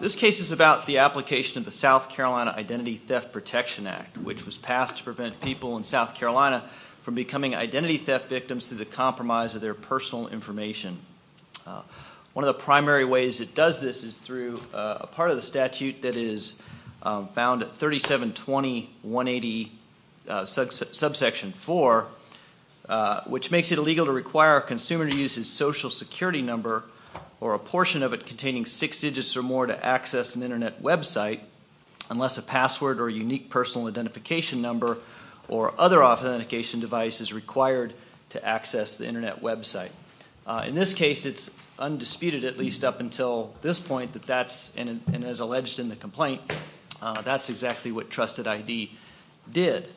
This case is about the application of the South Carolina Identity Theft Protection Act, which was passed to prevent people in South Carolina from becoming identity theft victims through the compromise of their personal information. One of the primary ways it does this is through a part of the statute that is found at 3720.180 subsection 4, which makes it illegal to require a consumer to use his social security number or a portion of it containing six digits or more to access an Internet website unless a password or unique personal identification number or other authentication device is required to access the Internet website. In this case, it is undisputed, at least up until this point, and as alleged in the complaint, that is exactly what TrustedID did.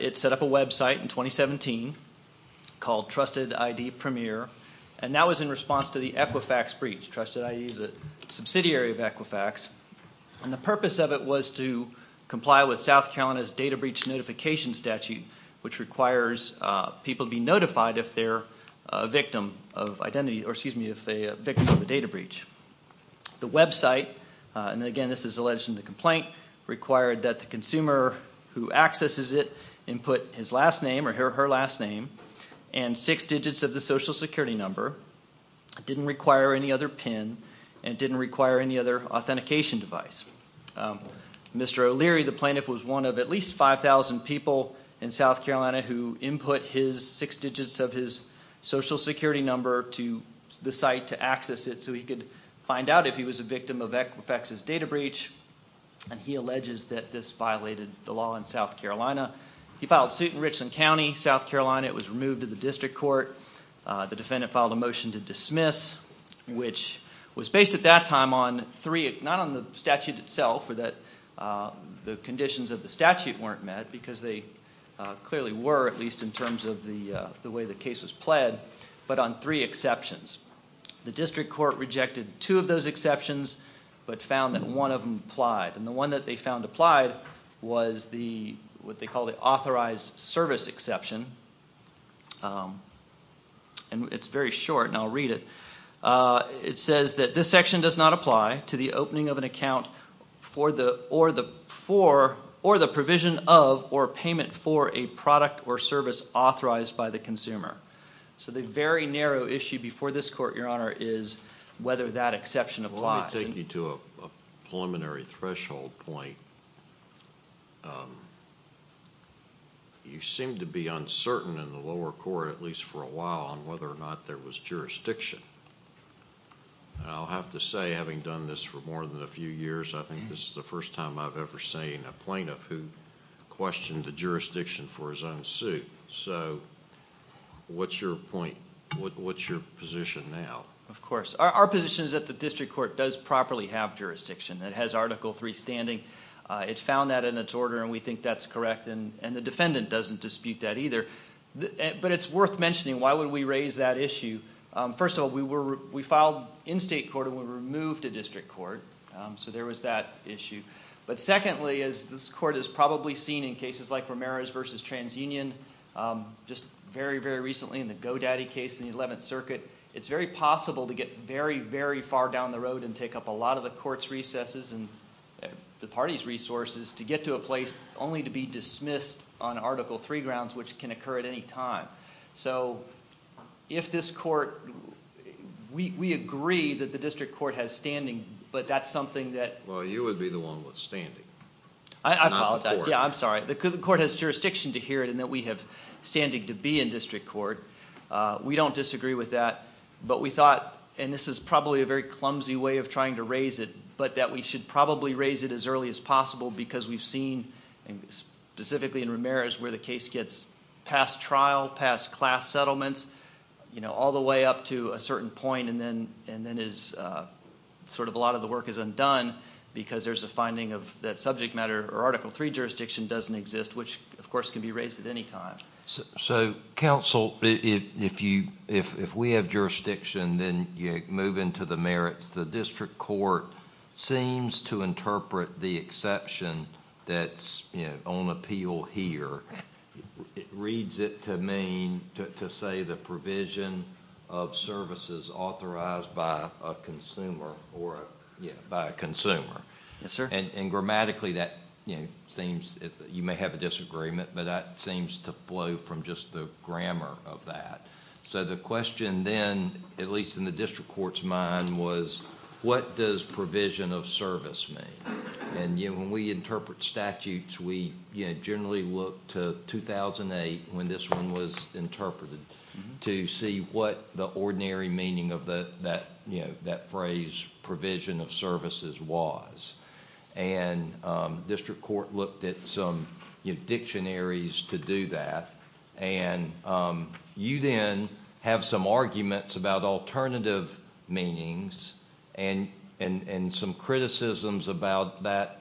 It set up a website in 2017 called TrustedID Premier, and that was in response to the Equifax breach. TrustedID is a subsidiary of Equifax. The purpose of it was to comply with South Carolina's data breach notification statute, which requires people to be notified if they're a victim of a data breach. The website, and again this is alleged in the complaint, required that the consumer who accesses it input his last name or her last name and six digits of the social security number. It didn't require any other PIN, and it didn't require any other authentication device. Mr. O'Leary, the plaintiff, was one of at least 5,000 people in South Carolina who input his six digits of his social security number to the site to access it so he could find out if he was a victim of Equifax's data breach, and he alleges that this violated the law in South Carolina. He filed suit in Richland County, South Carolina. It was removed at the district court. The defendant filed a motion to dismiss, which was based at that time on three, not on the statute itself or that the conditions of the statute weren't met, because they clearly were at least in terms of the way the case was pled, but on three exceptions. The district court rejected two of those exceptions, but found that one of them applied, and the one that they found applied was what they call the authorized service exception. It's very short, and I'll read it. It says that this section does not apply to the opening of an account or the provision of or payment for a product or service authorized by the consumer. The very narrow issue before this court, Your Honor, is whether that exception applies. Let me take you to a preliminary threshold point. You seem to be uncertain in the lower court, at least for a while, on whether or not there was jurisdiction. I'll have to say, having done this for more than a few years, I think this is the first time I've ever seen a plaintiff who questioned the jurisdiction for his own suit. What's your position now? Of course. Our position is that the district court does properly have jurisdiction. It has Article III standing. It found that in its order, and we think that's correct, and the defendant doesn't dispute that either. But it's worth mentioning, why would we raise that issue? First of all, we filed in state court and we removed a district court, so there was that issue. But secondly, as this court has probably seen in cases like Ramirez versus TransUnion, just very, very recently in the GoDaddy case in the 11th Circuit, it's very possible to get very, very far down the road and take up a lot of the court's recesses and the party's resources to get to a place only to be dismissed on Article III grounds, which can occur at any time. So if this court... We agree that the district court has standing, but that's something that... Well, you would be the one with standing. I apologize. Not the court. Yeah, I'm sorry. The court has jurisdiction to hear it and that we have standing to be in district court. We don't disagree with that, but we thought, and this is probably a very clumsy way of trying to raise it, but that we should probably raise it as early as possible because we've seen, specifically in Ramirez, where the case gets past trial, past class settlements, all the way up to a certain point, and then a lot of the work is undone because there's a finding of that Article III jurisdiction doesn't exist, which, of course, can be raised at any time. So counsel, if we have jurisdiction, then you move into the merits. The district court seems to interpret the exception that's on appeal here. It reads it to mean, to say the same thing. You may have a disagreement, but that seems to flow from just the grammar of that. So the question then, at least in the district court's mind, was what does provision of service mean? When we interpret statutes, we generally look to 2008, when this one was interpreted, to see what the ordinary meaning of that phrase, provision of services, was. District court looked at some dictionaries to do that. You then have some arguments about alternative meanings and some criticisms about that,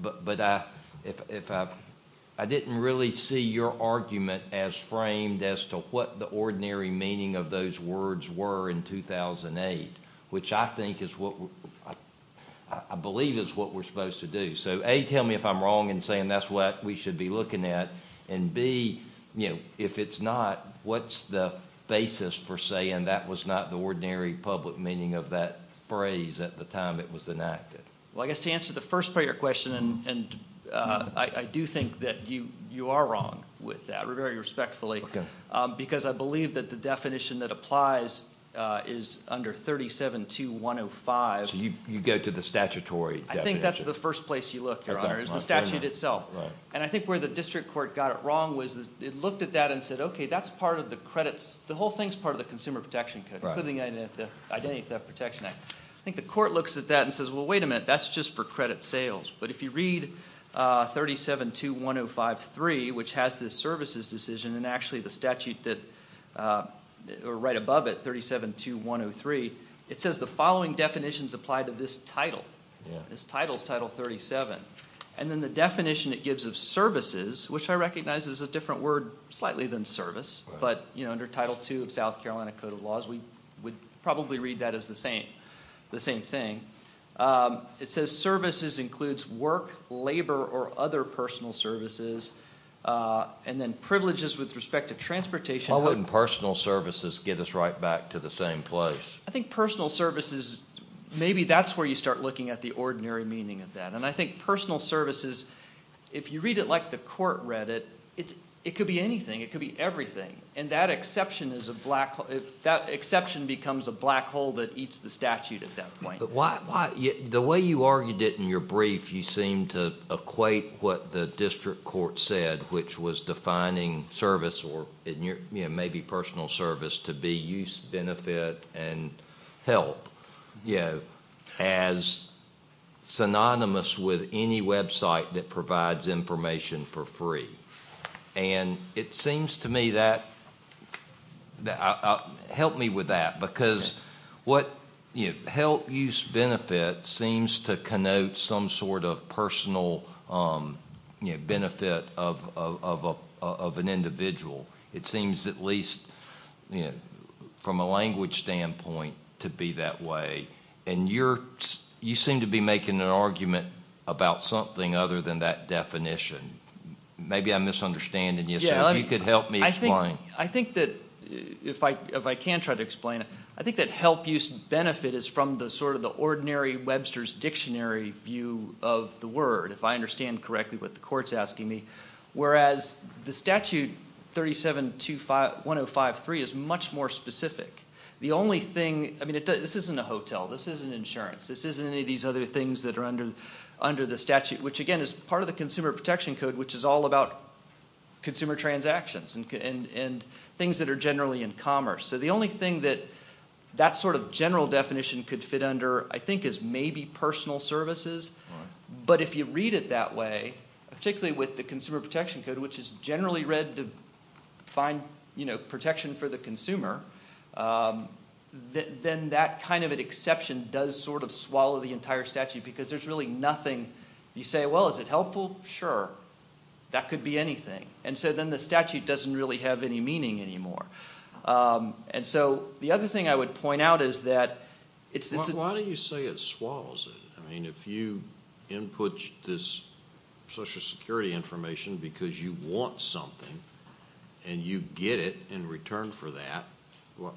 but I didn't really see your argument as framed as to what the ordinary meaning of those words were in 2008, which I believe is what we're supposed to do. So A, tell me if I'm wrong in saying that's what we should be looking at, and B, if it's not, what's the basis for saying that was not the ordinary public meaning of that phrase at the time it was enacted? Well, I guess to answer the first part of your question, and I do think that you are wrong with that, very respectfully, because I believe that the definition that applies is under 37.2.105. So you go to the statutory definition. I think that's the first place you look, Your Honor, is the statute itself. And I think where the district court got it wrong was it looked at that and said, okay, that's part of the credits, the whole thing's part of the Consumer Protection Code, including the Identity Theft Protection Act. I think the court looks at that and says, well, wait a minute, that's just for credit sales. But if you read 37.2.105.3, which has this services decision, and actually the statute that, or right above it, 37.2.103, it says the following definitions apply to this title. This title's Title 37. And then the definition it gives of services, which I recognize is a different word slightly than service, but under Title 2 of South Carolina Code of Laws, we would probably read that as the same thing. It says services includes work, labor, or other personal services, and then privileges with respect to transportation. Why wouldn't personal services get us right back to the same place? I think personal services, maybe that's where you start looking at the ordinary meaning of that. And I think personal services, if you read it like the court read it, it could be anything. It could be everything. And that exception becomes a black hole that eats the statute at that point. But the way you argued it in your brief, you seemed to equate what the district court said, which was defining service, or maybe personal service, to be use, benefit, and help as synonymous with any website that provides information for free. And it seems to me that, help me with that, because help, use, benefit seems to connote some sort of personal benefit of an individual. It seems, at least from a language standpoint, to be that way. And you seem to be making an argument about something other than that definition. Maybe I'm misunderstanding you, so if you could help me explain. I think that, if I can try to explain it, I think that help, use, benefit is from the sort of the ordinary Webster's Dictionary view of the word, if I understand correctly what the court's asking me. Whereas the statute 37-1053 is much more specific. The only thing, this isn't a hotel, this isn't insurance, this isn't any of these other things that are under the statute, which again is part of the Consumer Protection Code, which is all about consumer transactions and things that are generally in commerce. So the only thing that that sort of general definition could fit under, I think, is maybe personal services. But if you read it that way, particularly with the Consumer Protection Code, which is generally read to find protection for the consumer, then that kind of an exception does sort of swallow the entire statute, because there's really nothing. You say, well, is it helpful? Sure. That could be anything. And so then the statute doesn't really have any meaning anymore. And so the other thing I would point out is that it's a... Why do you say it swallows it? I mean, if you input this Social Security information because you want something and you get it in return for that,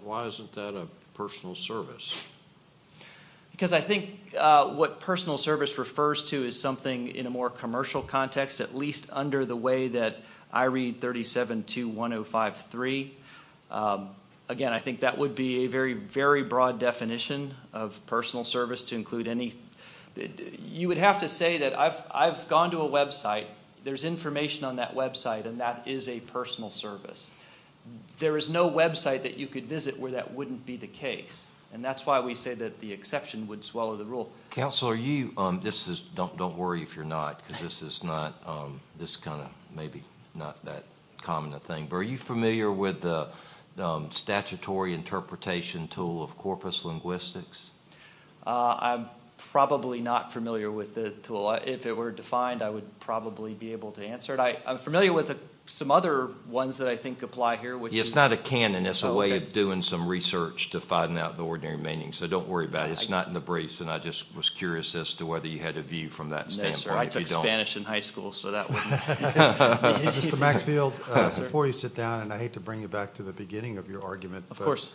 why isn't that a personal service? Because I think what personal service refers to is something in a more commercial context, at least under the way that I read 3721053. Again, I think that would be a very, very broad definition of personal service to include any... You would have to say that I've gone to a website, there's information on that website, and that is a personal service. There is no website that you could visit where that wouldn't be the case. And that's why we say that the exception would swallow the rule. Counselor, you... Don't worry if you're not, because this is kind of maybe not that common a thing. But are you familiar with the statutory interpretation tool of corpus linguistics? I'm probably not familiar with the tool. If it were defined, I would probably be able to answer it. I'm familiar with some other ones that I think apply here, which is... It's not a canon. It's a way of doing some research to find out the ordinary meaning. So don't worry about it. It's not in the briefs, and I just was curious as to whether you had a view from that standpoint. No, sir. I took Spanish in high school, so that wouldn't... Mr. Maxfield, before you sit down, and I hate to bring you back to the beginning of your argument... Of course.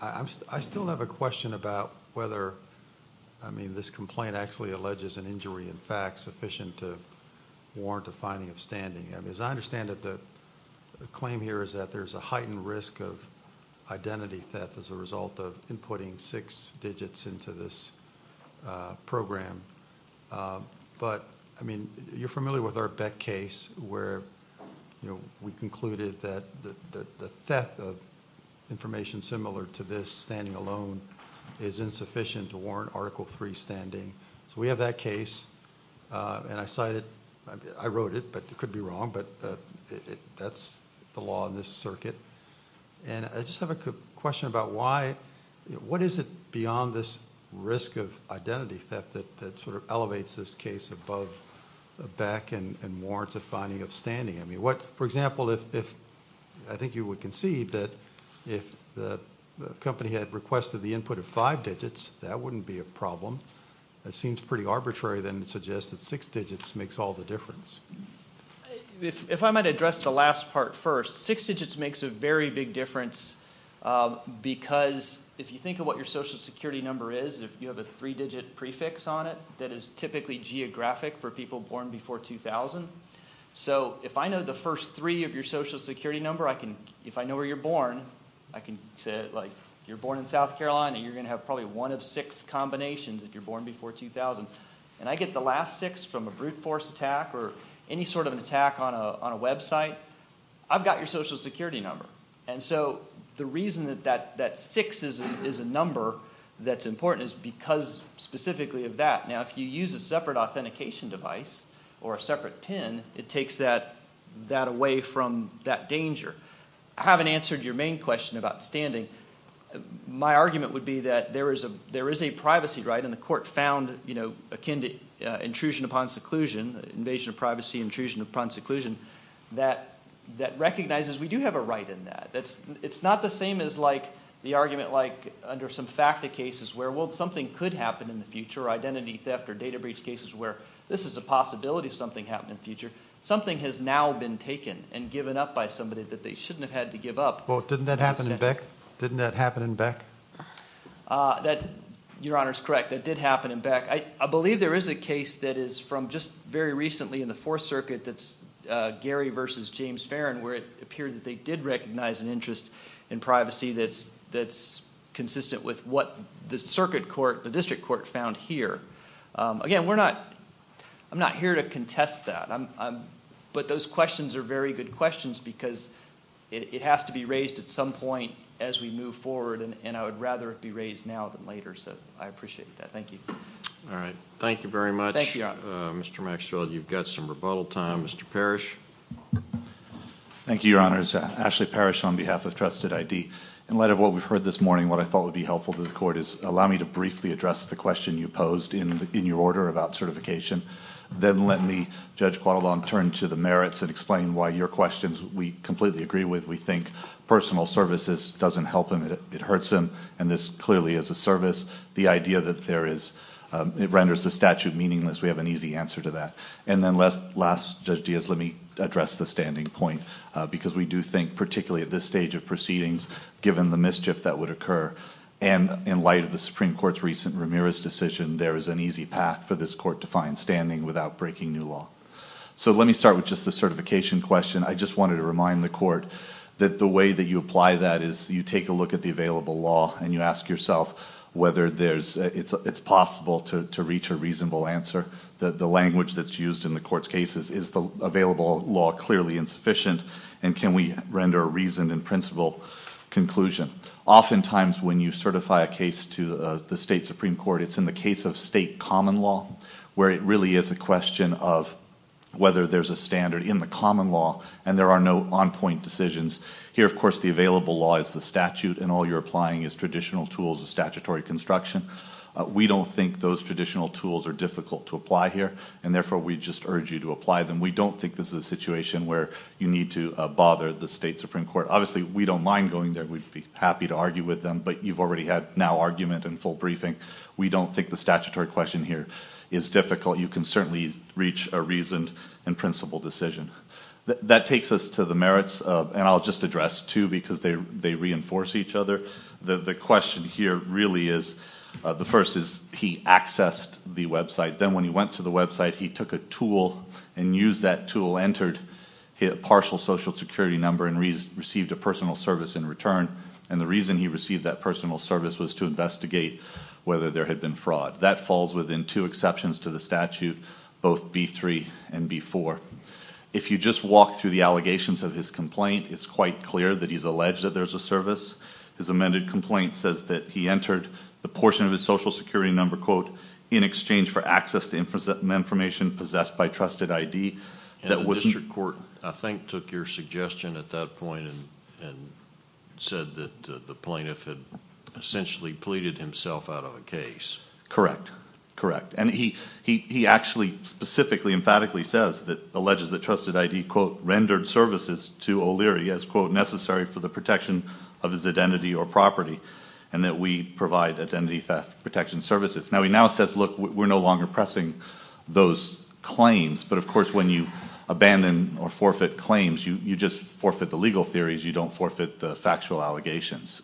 I still have a question about whether, I mean, this complaint actually alleges an injury in fact sufficient to warrant a finding of standing. As I understand it, the claim here is that there's a heightened risk of identity theft as a result of inputting six digits into this program. But, I mean, you're familiar with our Beck case, where we concluded that the theft of information similar to this, standing alone, is insufficient to warrant Article III standing. So we have that case, and I cited... I wrote it, but you could be on this circuit. And I just have a question about why... What is it beyond this risk of identity theft that sort of elevates this case above Beck and warrants a finding of standing? I mean, what... For example, if... I think you would concede that if the company had requested the input of five digits, that wouldn't be a problem. It seems pretty arbitrary then to suggest that six digits makes all the difference. If I might address the last part first, six digits makes a very big difference because if you think of what your Social Security number is, if you have a three-digit prefix on it, that is typically geographic for people born before 2000. So if I know the first three of your Social Security number, I can... If I know where you're born, I can say, like, you're born in South Carolina, you're going to have probably one of six combinations if you're born before 2000, and I get the last six from a brute force attack or any sort of an attack on a website, I've got your Social Security number. And so the reason that that six is a number that's important is because specifically of that. Now, if you use a separate authentication device or a separate PIN, it takes that away from that danger. I haven't answered your main question about standing. My argument would be that there is a privacy right, and the court found, you know, akin to intrusion upon seclusion, invasion of privacy, intrusion upon seclusion, that recognizes we do have a right in that. It's not the same as, like, the argument, like, under some FACTA cases where, well, something could happen in the future, identity theft or data breach cases where this is a possibility of something happening in the future. Something has now been taken and given up by somebody that they shouldn't have had to give up. Well, didn't that happen in Beck? Didn't that happen in Beck? That, Your Honor, is correct. That did happen in Beck. I believe there is a case that is from just very recently in the Fourth Circuit that's Gary versus James Farron where it appeared that they did recognize an interest in privacy that's consistent with what the circuit court, the district court found here. Again, we're not, I'm not here to contest that, but those are questions that have been raised at some point as we move forward, and I would rather it be raised now than later, so I appreciate that. Thank you. All right. Thank you very much, Mr. Maxwell. You've got some rebuttal time. Mr. Parrish? Thank you, Your Honors. Ashley Parrish on behalf of Trusted ID. In light of what we've heard this morning, what I thought would be helpful to the court is allow me to briefly address the question you posed in your order about certification. Then let me, Judge Quattlebaum, turn to the merits and explain why your questions we completely agree with. We think personal services doesn't help him. It hurts him, and this clearly is a service. The idea that there is, it renders the statute meaningless. We have an easy answer to that. And then last, Judge Diaz, let me address the standing point because we do think particularly at this stage of proceedings, given the mischief that would occur, and in light of the Supreme Court's recent Ramirez decision, there is an easy path for this court to find standing without breaking new law. So let me start with just the certification question. I just wanted to remind the court that the way that you apply that is you take a look at the available law, and you ask yourself whether it's possible to reach a reasonable answer. The language that's used in the court's case is, is the available law clearly insufficient, and can we render a reasoned and principled conclusion? Oftentimes when you certify a case to the state Supreme Court, it's in the case of state common law, where it really is a question of whether there's a standard in the common law, and there are no on-point decisions. Here, of course, the available law is the statute, and all you're applying is traditional tools of statutory construction. We don't think those traditional tools are difficult to apply here, and therefore we just urge you to apply them. We don't think this is a situation where you need to bother the state Supreme Court. Obviously, we don't mind going there. We'd be happy to argue with them, but you've already had now argument and full briefing. We don't think the statutory question here is difficult. You can certainly reach a reasoned and principled decision. That takes us to the merits, and I'll just address two, because they reinforce each other. The question here really is, the first is, he accessed the website. Then when he went to the website, he took a tool and used that tool, entered his partial Social Security number, and received a personal service in return, and the reason he received that personal service was to investigate whether there had been fraud. That falls within two exceptions to the statute, both B-3 and B-4. If you just walk through the allegations of his complaint, it's quite clear that he's alleged that there's a service. His amended complaint says that he entered the portion of his Social Security number, quote, in exchange for access to information possessed by trusted ID. The district court, I think, took your suggestion at that point and said that the plaintiff had essentially pleaded himself out of a case. Correct. Correct. He actually specifically, emphatically says that, alleges that trusted ID, quote, rendered services to O'Leary as, quote, necessary for the protection of his identity or property, and that we provide identity theft protection services. Now, he is no longer pressing those claims, but, of course, when you abandon or forfeit claims, you just forfeit the legal theories. You don't forfeit the factual allegations.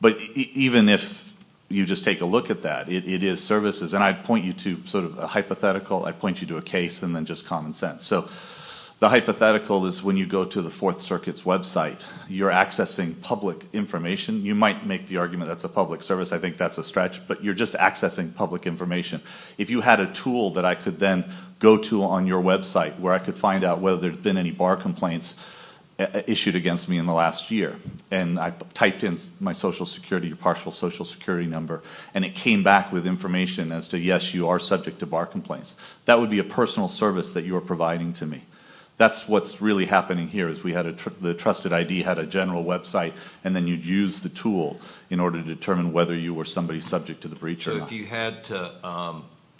But even if you just take a look at that, it is services, and I'd point you to sort of a hypothetical. I'd point you to a case and then just common sense. So the hypothetical is when you go to the Fourth Circuit's website, you're accessing public information. You might make the argument that's a public service. I think that's a stretch, but you're just If you had a tool that I could then go to on your website where I could find out whether there's been any bar complaints issued against me in the last year, and I typed in my Social Security, your partial Social Security number, and it came back with information as to, yes, you are subject to bar complaints, that would be a personal service that you are providing to me. That's what's really happening here is we had a, the trusted ID had a general website and then you'd use the tool in order to determine whether you were somebody subject to the breach or not. So if you had to,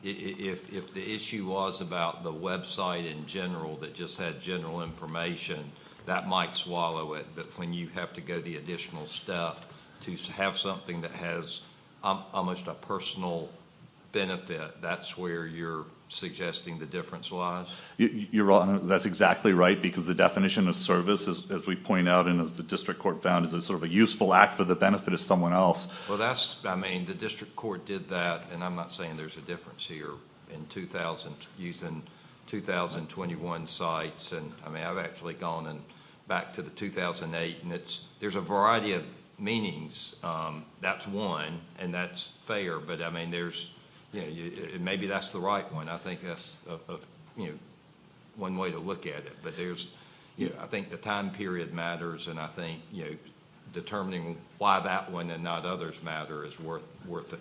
if the issue was about the website in general that just had general information, that might swallow it. But when you have to go the additional step to have something that has almost a personal benefit, that's where you're suggesting the difference lies? You're right. That's exactly right because the definition of service, as we point out and as the District Court found, is a sort of a useful act for the benefit of someone else. Well, that's, I mean, the District Court did that, and I'm not saying there's a difference here in 2000, using 2021 sites, and I mean, I've actually gone back to the 2008, and it's, there's a variety of meanings. That's one, and that's fair, but I mean, there's, you know, maybe that's the right one. I think that's, you know, one way to look at it. But there's, you know, I think the time period matters, and I think, you know, why that one and not others matter is worth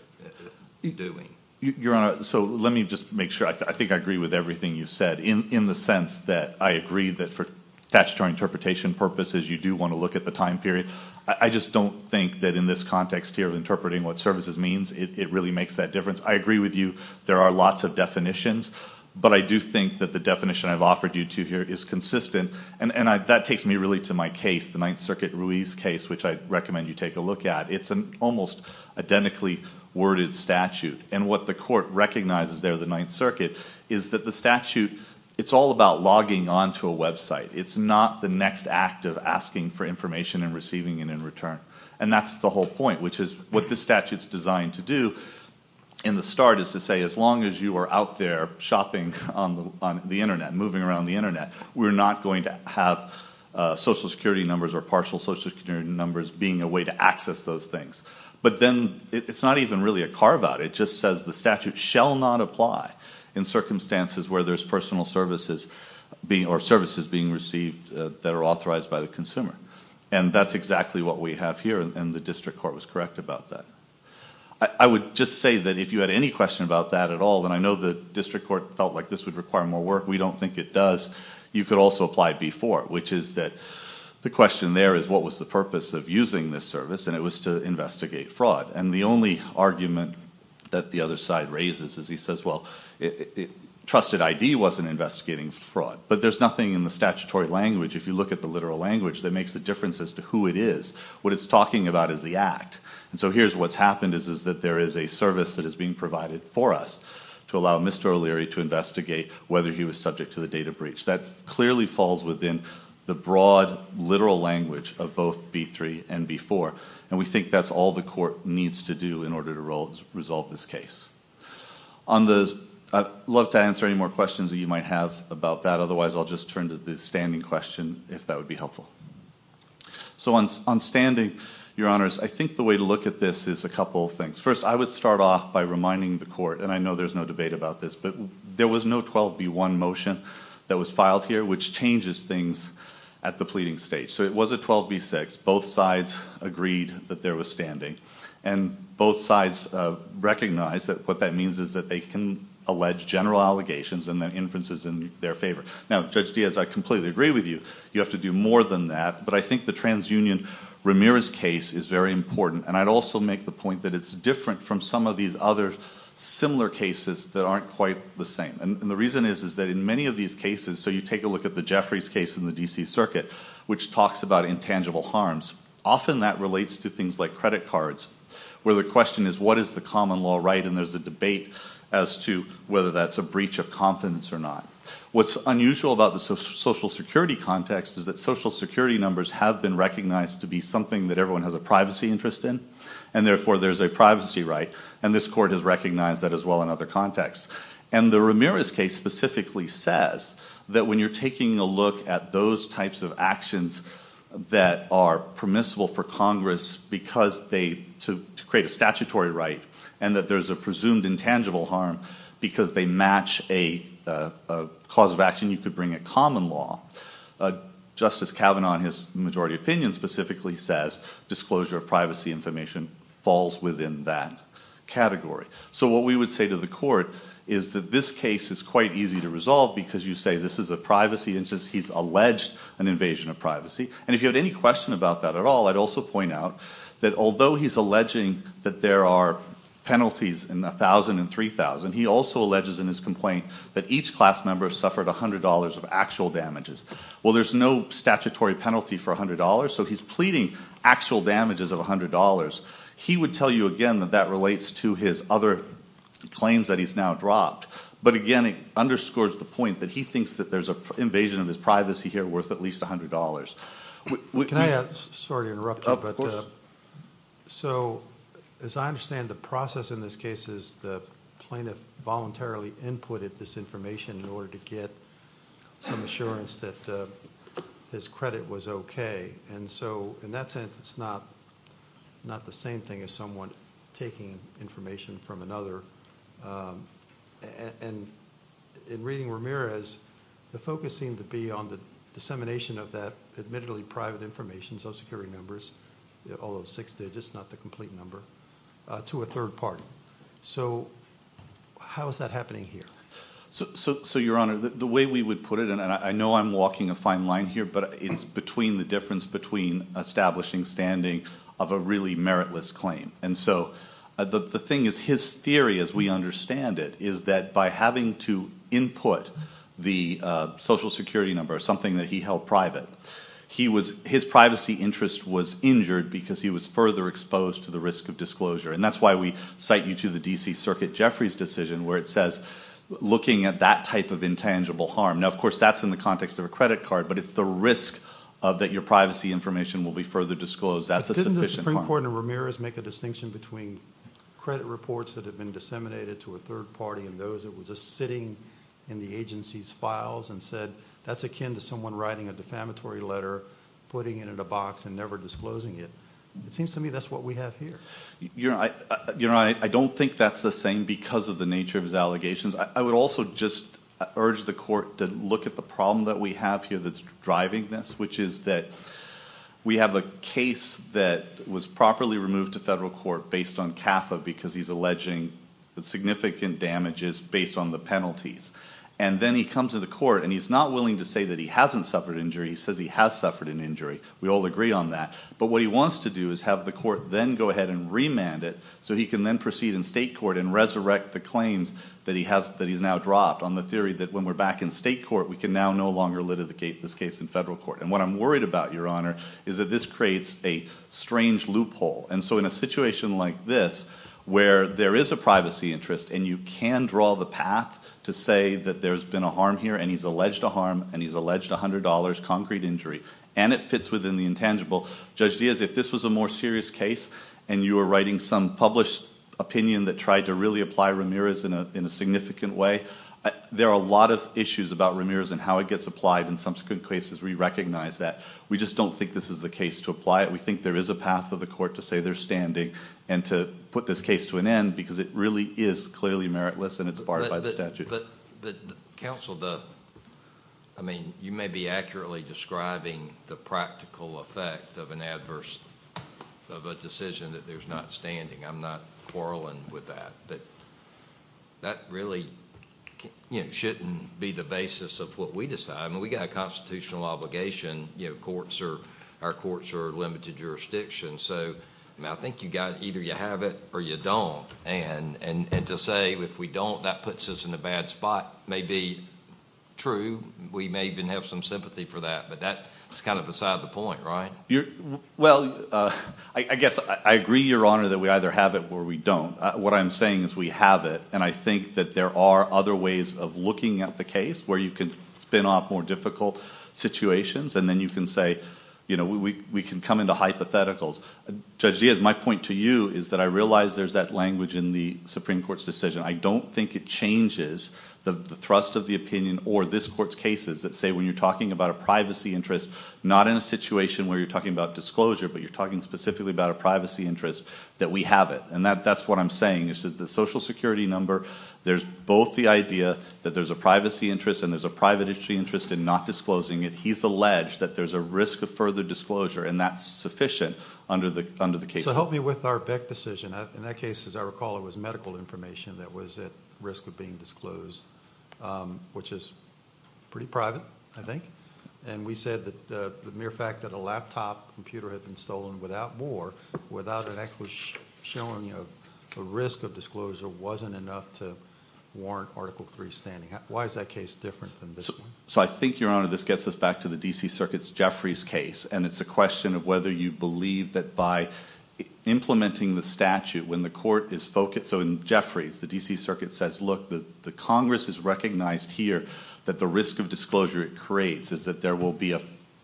doing. Your Honor, so let me just make sure. I think I agree with everything you've said in the sense that I agree that for statutory interpretation purposes, you do want to look at the time period. I just don't think that in this context here of interpreting what services means, it really makes that difference. I agree with you. There are lots of definitions, but I do think that the definition I've offered you to here is consistent, and that takes me really to my case, the Ninth Circuit, to look at. It's an almost identically worded statute, and what the court recognizes there of the Ninth Circuit is that the statute, it's all about logging onto a website. It's not the next act of asking for information and receiving it in return, and that's the whole point, which is what this statute's designed to do in the start is to say as long as you are out there shopping on the Internet, moving around the Internet, we're not going to have Social Security numbers or partial Social Security numbers being a way to access those things, but then it's not even really a carve out. It just says the statute shall not apply in circumstances where there's personal services or services being received that are authorized by the consumer, and that's exactly what we have here, and the district court was correct about that. I would just say that if you had any question about that at all, and I know the district court felt like this would require more work. We don't think it does. You could also apply it before, which is that the question there is what was the purpose of using this service, and it was to investigate fraud, and the only argument that the other side raises is he says, well, trusted ID wasn't investigating fraud, but there's nothing in the statutory language, if you look at the literal language, that makes a difference as to who it is. What it's talking about is the act, and so here's what's happened is that there is a service that is being provided for us to allow Mr. O'Leary to investigate whether he was subject to the data breach. That clearly falls within the broad literal language of both B3 and B4, and we think that's all the court needs to do in order to resolve this case. I'd love to answer any more questions that you might have about that. Otherwise, I'll just turn to the standing question, if that would be helpful. So on standing, your honors, I think the way to look at this is a couple of things. First, I would start off by reminding the court, and I know there's no debate about this, but there was no 12B1 motion that was filed here, which changes things at the pleading stage. So it was a 12B6. Both sides agreed that there was standing, and both sides recognize that what that means is that they can allege general allegations and their inferences in their favor. Now, Judge Diaz, I completely agree with you. You have to do more than that, but I think the TransUnion Ramirez case is very important, and I'd also make the point that it's different from some of these other similar cases that aren't quite the same. And the reason is that in many of these cases, so you take a look at the Jeffries case in the D.C. Circuit, which talks about intangible harms, often that relates to things like credit cards, where the question is what is the common law right, and there's a debate as to whether that's a breach of confidence or not. What's unusual about the social security context is that social security numbers have been recognized to be something that everyone has a privacy interest in, and therefore there's a privacy right, and this Court has recognized that as well in other contexts. And the Ramirez case specifically says that when you're taking a look at those types of actions that are permissible for Congress because they, to create a statutory right, and that there's a presumed intangible harm because they match a cause of action, you could bring a common law. Justice Kavanaugh in his majority opinion specifically says disclosure of privacy information falls within that category. So what we would say to the Court is that this case is quite easy to resolve because you say this is a privacy interest, he's alleged an invasion of privacy. And if you had any question about that at all, I'd also point out that although he's alleging that there are penalties in 1,000 and 3,000, he also alleges in his complaint that each class member suffered $100 of actual damages. Well, there's no statutory penalty for $100, so he's pleading actual damages of $100. He would tell you again that that relates to his other claims that he's now dropped. But again, it underscores the point that he thinks that there's an invasion of his privacy here worth at least $100. Can I ask, sorry to interrupt you, but so as I understand the process in this case is the plaintiff voluntarily inputted this information in order to get some assurance that his credit was okay. And so in that sense, it's not the same thing as someone taking information from another. And in reading Ramirez, the focus seemed to be on the dissemination of that admittedly private information, social security numbers, although six digits is not the complete number, to a third party. So how is that happening here? So Your Honor, the way we would put it, and I know I'm walking a fine line here, but it's between the difference between establishing standing of a really meritless claim. And so the thing is his theory as we understand it is that by having to input the social security number, something that he held private, his privacy interest was injured because he was further exposed to the risk of disclosure. And that's why we cite you to the D.C. Circuit Jeffrey's decision where it says looking at that type of intangible harm. Now, of course, that's in the context of a credit card, but it's the risk of that your privacy information will be further disclosed. That's a sufficient harm. But didn't the Supreme Court in Ramirez make a distinction between credit reports that have been disseminated to a third party and those that were just sitting in the agency's files and said that's akin to someone writing a defamatory letter, putting it in a box and never disclosing it? It seems to me that's what we have here. You know, I don't think that's the same because of the nature of his allegations. I would also just urge the court to look at the problem that we have here that's driving this, which is that we have a case that was properly removed to federal court based on CAFA because he's alleging significant damages based on the penalties. And then he comes to the court and he's not willing to say that he hasn't suffered an injury. He says he has suffered an injury. We all agree on that. But what he wants to do is have the court then go ahead and remand it so he can then proceed in state court and resurrect the claims that he has that he's now dropped on the theory that when we're back in state court we can now no longer litigate this case in federal court. And what I'm worried about, Your Honor, is that this creates a strange loophole. And so in a situation like this where there is a privacy interest and you can draw the path to say that there's been a harm here and he's alleged a harm and he's alleged $100 concrete injury and it fits within the intangible, Judge Diaz, if this was a more serious case and you were writing some published opinion that tried to really apply Ramirez in a significant way, there are a lot of issues about Ramirez and how it gets applied in subsequent cases. We recognize that. We just don't think this is the case to apply it. We think there is a path for the court to say they're standing and to put this case to an end because it really is clearly meritless and it's barred by the statute. But, Counsel, I mean, you may be accurately describing the practical effect of an adverse of a decision that there's not standing. I'm not quarreling with that. But that really shouldn't be the basis of what we decide. I mean, we've got a constitutional obligation. Our courts are limited jurisdiction. So I think either you have it or you don't. And to say if we don't, that puts us in a bad spot may be true. We may even have some sympathy for that. But that's kind of beside the point, right? Well, I guess I agree, Your Honor, that we either have it or we don't. What I'm saying is we have it. And I think that there are other ways of looking at the case where you can spin off more difficult situations and then you can say, you know, we can come into hypotheticals. Judge Diaz, my point to you is that I realize there's that language in the Supreme Court's decision. I don't think it changes the thrust of the opinion or this Court's cases that say when you're talking about a privacy interest, not in a situation where you're talking about disclosure but you're talking specifically about a privacy interest, that we have it. And that's what I'm saying. The Social Security number, there's both the idea that there's a privacy interest and there's a private interest in not disclosing it. He's alleged that there's a risk of further disclosure, and that's sufficient under the case law. So help me with our Beck decision. In that case, as I recall, it was medical information that was at risk of being disclosed, which is pretty private, I think. And we said that the mere fact that a laptop computer had been stolen without war, without an actual showing of the risk of disclosure, wasn't enough to warrant Article III standing. Why is that case different than this one? So I think, Your Honor, this gets us back to the D.C. Circuit's Jeffries case. And it's a question of whether you believe that by implementing the statute, when the Court is focused on Jeffries, the D.C. Circuit says, look, the Congress has recognized here that the risk of disclosure it creates is that there will be a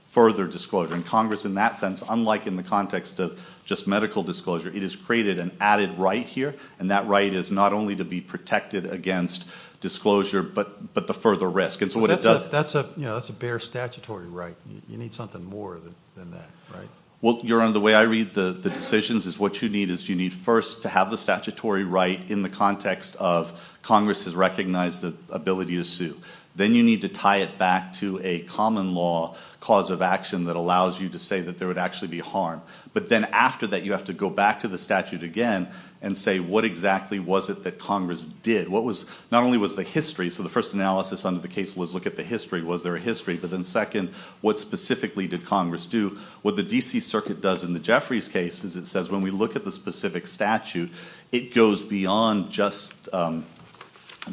further disclosure. And Congress, in that sense, unlike in the context of just medical disclosure, it has created an added right here, and that right is not only to be protected against disclosure but the further risk. And so what it does... But that's a bare statutory right. You need something more than that, right? Well, Your Honor, the way I read the decisions is what you need is you need first to have the statutory right in the context of Congress has recognized the ability to sue. Then you need to tie it back to a common law cause of action that allows you to say that there would actually be harm. But then after that, you have to go back to the statute again and say what exactly was it that Congress did? What was, not only was the history, so the first analysis under the case was look at the history. Was there a history? But then second, what specifically did Congress do? What the D.C. Circuit does in the Jeffries case is it says when we look at the specific statute, it goes beyond just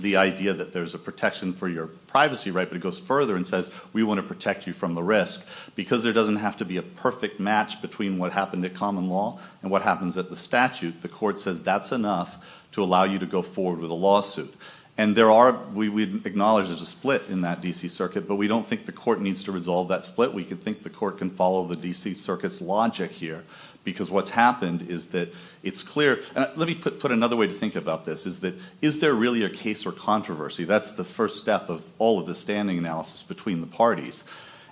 the idea that there's a protection for your privacy, right, but it goes further and says we want to protect you from the risk. Because there doesn't have to be a perfect match between what happened at common law and what happens at the statute, the Court says that's enough to allow you to go forward with a lawsuit. And there are, we acknowledge there's a split in that D.C. Circuit, but we don't think the Court needs to resolve that split. We think the Court can follow the D.C. Circuit's logic here because what's happened is that it's clear, and let me put another way to think about this, is that is there really a case or controversy? That's the first step of all of the standing analysis between the parties.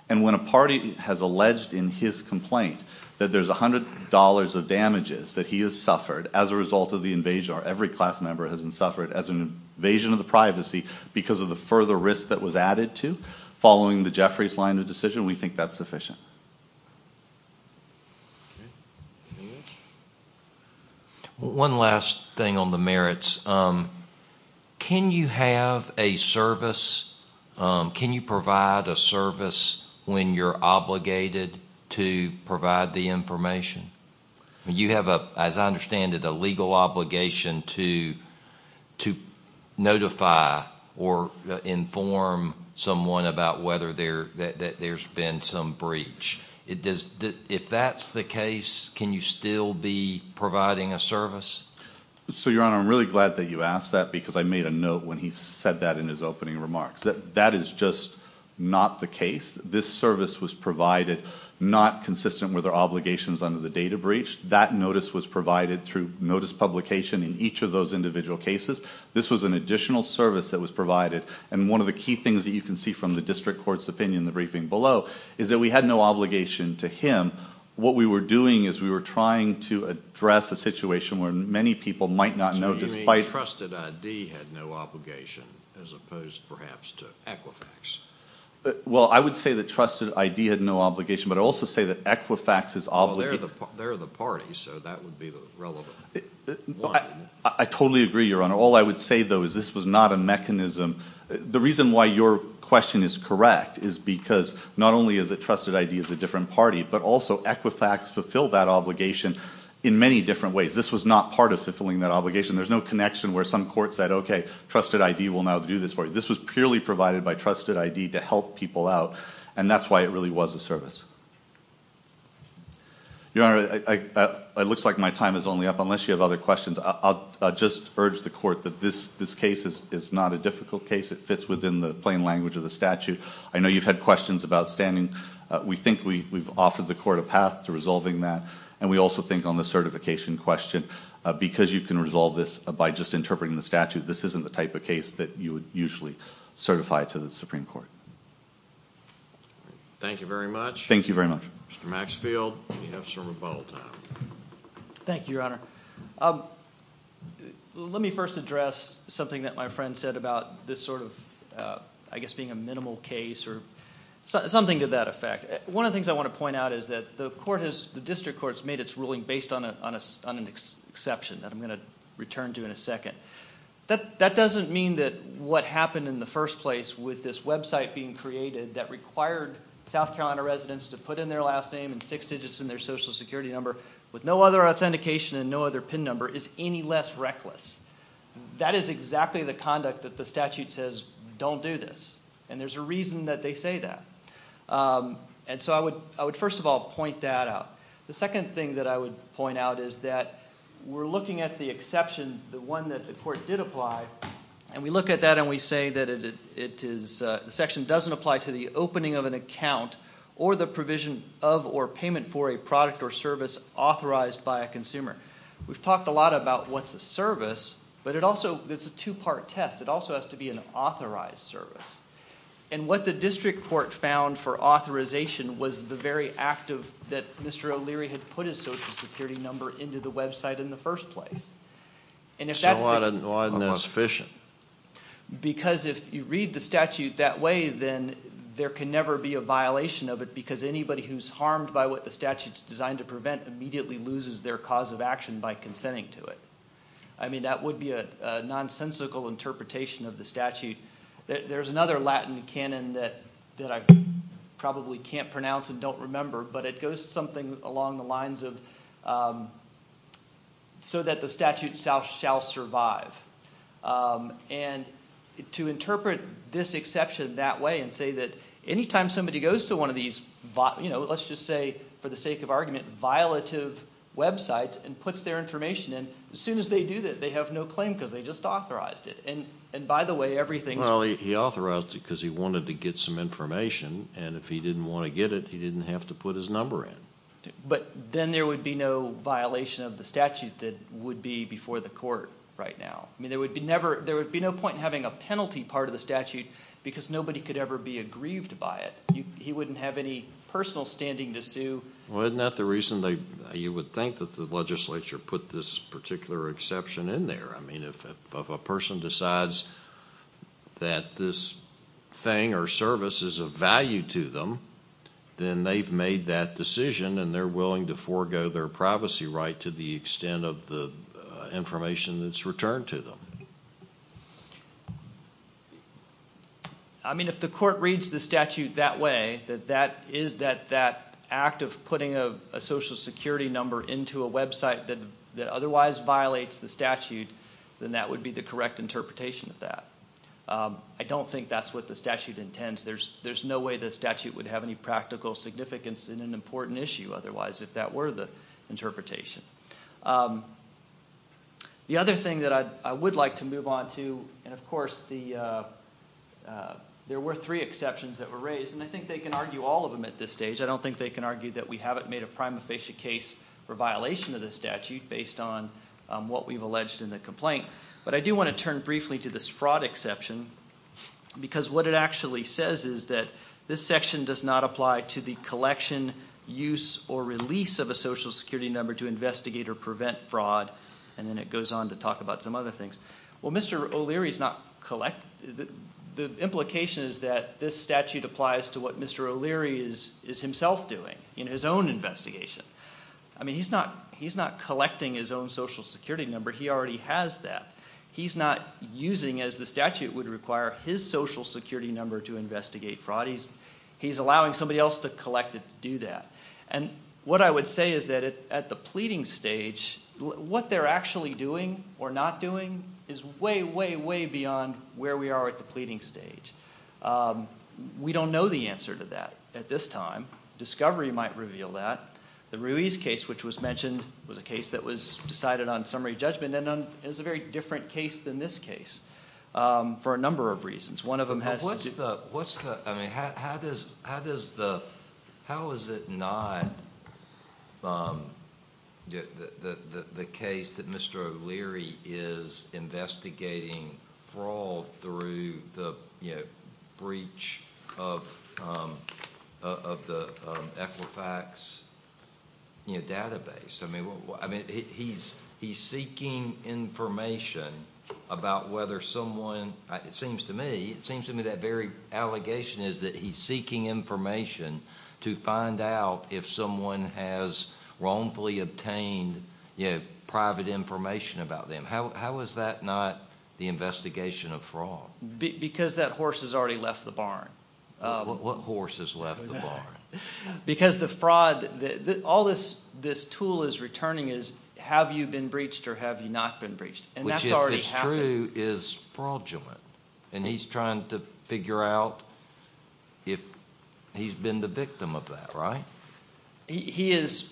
And when a party has alleged in his complaint that there's $100 of damages that he has suffered as a invasion of the privacy because of the further risk that was added to following the Jeffries line of decision, we think that's sufficient. One last thing on the merits. Can you have a service, can you provide a service when you're obligated to provide the information? You have, as I understand it, a legal obligation to notify or inform someone about whether there's been some breach. If that's the case, can you still be providing a service? So Your Honor, I'm really glad that you asked that because I made a note when he said that in his opening remarks. That is just not the case. This service was provided not consistent with our obligations under the data breach. That notice was provided through notice publication in each of those individual cases. This was an additional service that was provided. And one of the key things that you can see from the district court's opinion in the briefing below is that we had no obligation to him. What we were doing is we were trying to address a situation where many people might not know despite... So you mean Trusted ID had no obligation as opposed perhaps to Equifax? Well, I would say that Trusted ID had no obligation, but I would also say that Equifax's obligation... They're the party, so that would be the relevant one. I totally agree, Your Honor. All I would say, though, is this was not a mechanism. The reason why your question is correct is because not only is it Trusted ID is a different party, but also Equifax fulfilled that obligation in many different ways. This was not part of fulfilling that obligation. There's no connection where some court said, okay, Trusted ID will now do this for you. This was purely provided by Trusted ID to help people out, and that's why it really was a service. Your Honor, it looks like my time is only up. Unless you have other questions, I'll just urge the Court that this case is not a difficult case. It fits within the plain language of the statute. I know you've had questions about standing. We think we've offered the Court a path to resolving that, and we also think on the certification question, because you can resolve this by just interpreting the statute, this isn't the type of case that you would usually certify to the Supreme Court. Thank you very much. Mr. Maxfield, you have some rebuttal time. Thank you, Your Honor. Let me first address something that my friend said about this sort of, I guess, being a minimal case, or something to that effect. One of the things I want to point out is that the District Court has made its ruling based on an exception that I'm going to return to in a second. That doesn't mean that what happened in the first place with this website being created that required South Carolina residents to put in their last name and six digits in their Social Security number, with no other authentication and no other PIN number, is any less reckless. That is exactly the conduct that the statute says, don't do this. And there's a reason that they say that. And so I would first of all point that out. The second thing that I would point out is that we're looking at the exception, the one that the court did apply, and we look at that and we say that the section doesn't apply to the opening of an account or the provision of or payment for a product or service authorized by a consumer. We've talked a lot about what's a service, but it's a two-part test. It also has to be an authorized service. And what the District Court found for authorization was the very act that Mr. O'Leary had put his Social Security number into the website in the first place. And if that's the... So why isn't that sufficient? Because if you read the statute that way, then there can never be a violation of it because anybody who's harmed by what the statute's designed to prevent immediately loses their cause of action by consenting to it. I mean, that would be a nonsensical interpretation of the statute. There's another Latin canon that I probably can't pronounce and don't So that the statute shall survive. And to interpret this exception that way and say that any time somebody goes to one of these, let's just say for the sake of argument, violative websites and puts their information in, as soon as they do that, they have no claim because they just authorized it. And by the way, everything's... Well, he authorized it because he wanted to get some information, and if he didn't want to get it, he didn't have to put his number in. But then there would be no violation of the statute that would be before the court right now. I mean, there would be no point in having a penalty part of the statute because nobody could ever be aggrieved by it. He wouldn't have any personal standing to sue. Well, isn't that the reason you would think that the legislature put this particular exception in there? I mean, if a person decides that this thing or service is of value to them, then they've made that decision, and they're willing to forego their privacy right to the extent of the information that's returned to them. I mean, if the court reads the statute that way, that that is that act of putting a social security number into a website that otherwise violates the statute, then that would be the correct interpretation of that. I don't think that's what the statute intends. There's no way the statute would have any practical significance in an important issue otherwise if that were the interpretation. The other thing that I would like to move on to, and of course there were three exceptions that were raised, and I think they can argue all of them at this stage. I don't think they can argue that we haven't made a prima facie case for violation of the statute based on what we've alleged in the complaint. But I do want to turn briefly to this fraud exception because what it actually says is that this section does not apply to the collection, use or release of a social security number to investigate or prevent fraud, and then it goes on to talk about some other things. Well, Mr. O'Leary's not collecting. The implication is that this statute applies to what Mr. O'Leary is himself doing in his own investigation. I mean, he's not collecting his own social security number. He already has that. He's not using, as the statute would require, his social security number to investigate fraud. He's allowing somebody else to collect it to do that. What I would say is that at the pleading stage, what they're actually doing or not doing is way, way, way beyond where we are at the pleading stage. We don't know the answer to that at this time. Discovery might reveal that. The Ruiz case, which was mentioned, was a case that was decided on summary judgment, and it was a very different case than this case for a number of reasons. One of them has to do... What's the... I mean, how is it not the case that Mr. O'Leary is investigating fraud through the breach of the Equifax database? I mean, he's seeking information about whether someone... It seems to me that very allegation is that he's seeking information to find out if someone has wrongfully obtained private information about them. How is that not the case for fraud? Because that horse has already left the barn. What horse has left the barn? Because the fraud... all this tool is returning is have you been breached or have you not been breached? And that's already happened. Which, if it's true, is fraudulent. And he's trying to figure out if he's been the victim of that, right? He is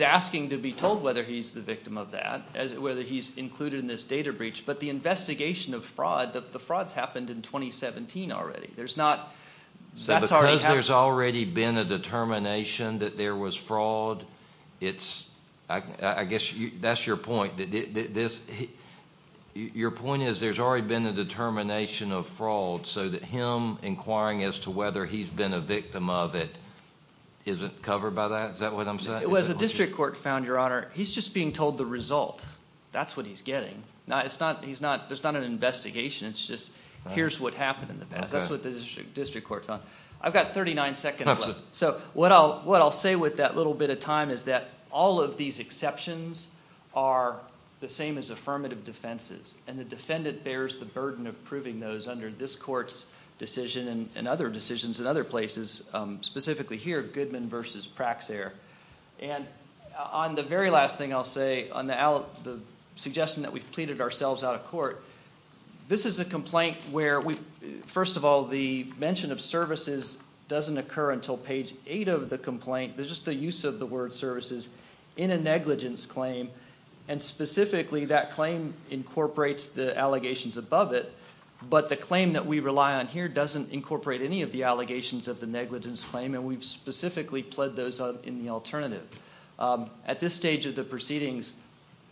asking to be told whether he's the victim of that, whether he's included in this data breach. But the investigation of fraud, the fraud's happened in 2017 already. There's not... So because there's already been a determination that there was fraud, it's... I guess that's your point. Your point is there's already been a determination of fraud so that him inquiring as to whether he's been a victim of it isn't covered by that? Is that what I'm saying? It was. The district court found, Your Honor, he's just being told the result. That's what he's getting. There's not an investigation. It's just here's what happened in the past. That's what the district court found. I've got 39 seconds left. So what I'll say with that little bit of time is that all of these exceptions are the same as affirmative defenses. And the defendant bears the burden of proving those under this court's decision and other decisions in other places, specifically here, Goodman v. Praxair. And on the very last thing I'll say, on the suggestion that we've pleaded ourselves out of court, this is a complaint where, first of all, the mention of services doesn't occur until page eight of the complaint. There's just the use of the word services in a negligence claim. And specifically, that claim incorporates the allegations above it. But the claim that we rely on here doesn't incorporate any of the allegations. We specifically pled those in the alternative. At this stage of the proceedings,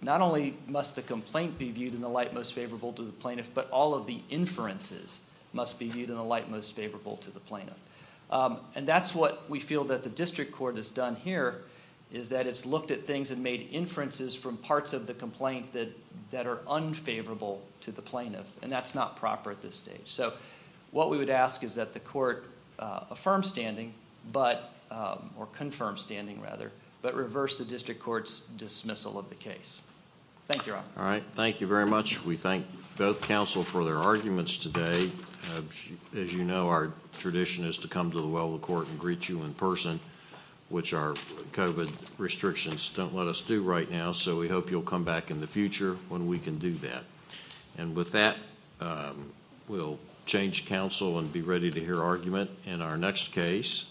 not only must the complaint be viewed in the light most favorable to the plaintiff, but all of the inferences must be viewed in the light most favorable to the plaintiff. And that's what we feel that the district court has done here, is that it's looked at things and made inferences from parts of the complaint that are unfavorable to the plaintiff. And that's not proper at this stage. So what we would ask is that the court affirm standing, or confirm standing rather, but reverse the district court's dismissal of the case. Thank you, Your Honor. All right. Thank you very much. We thank both counsel for their arguments today. As you know, our tradition is to come to the Wellwood Court and greet you in person, which our COVID restrictions don't let us do right now. So we hope you'll come back in the future when we can do that. And with that, we'll change counsel and be ready to hear argument in our next case.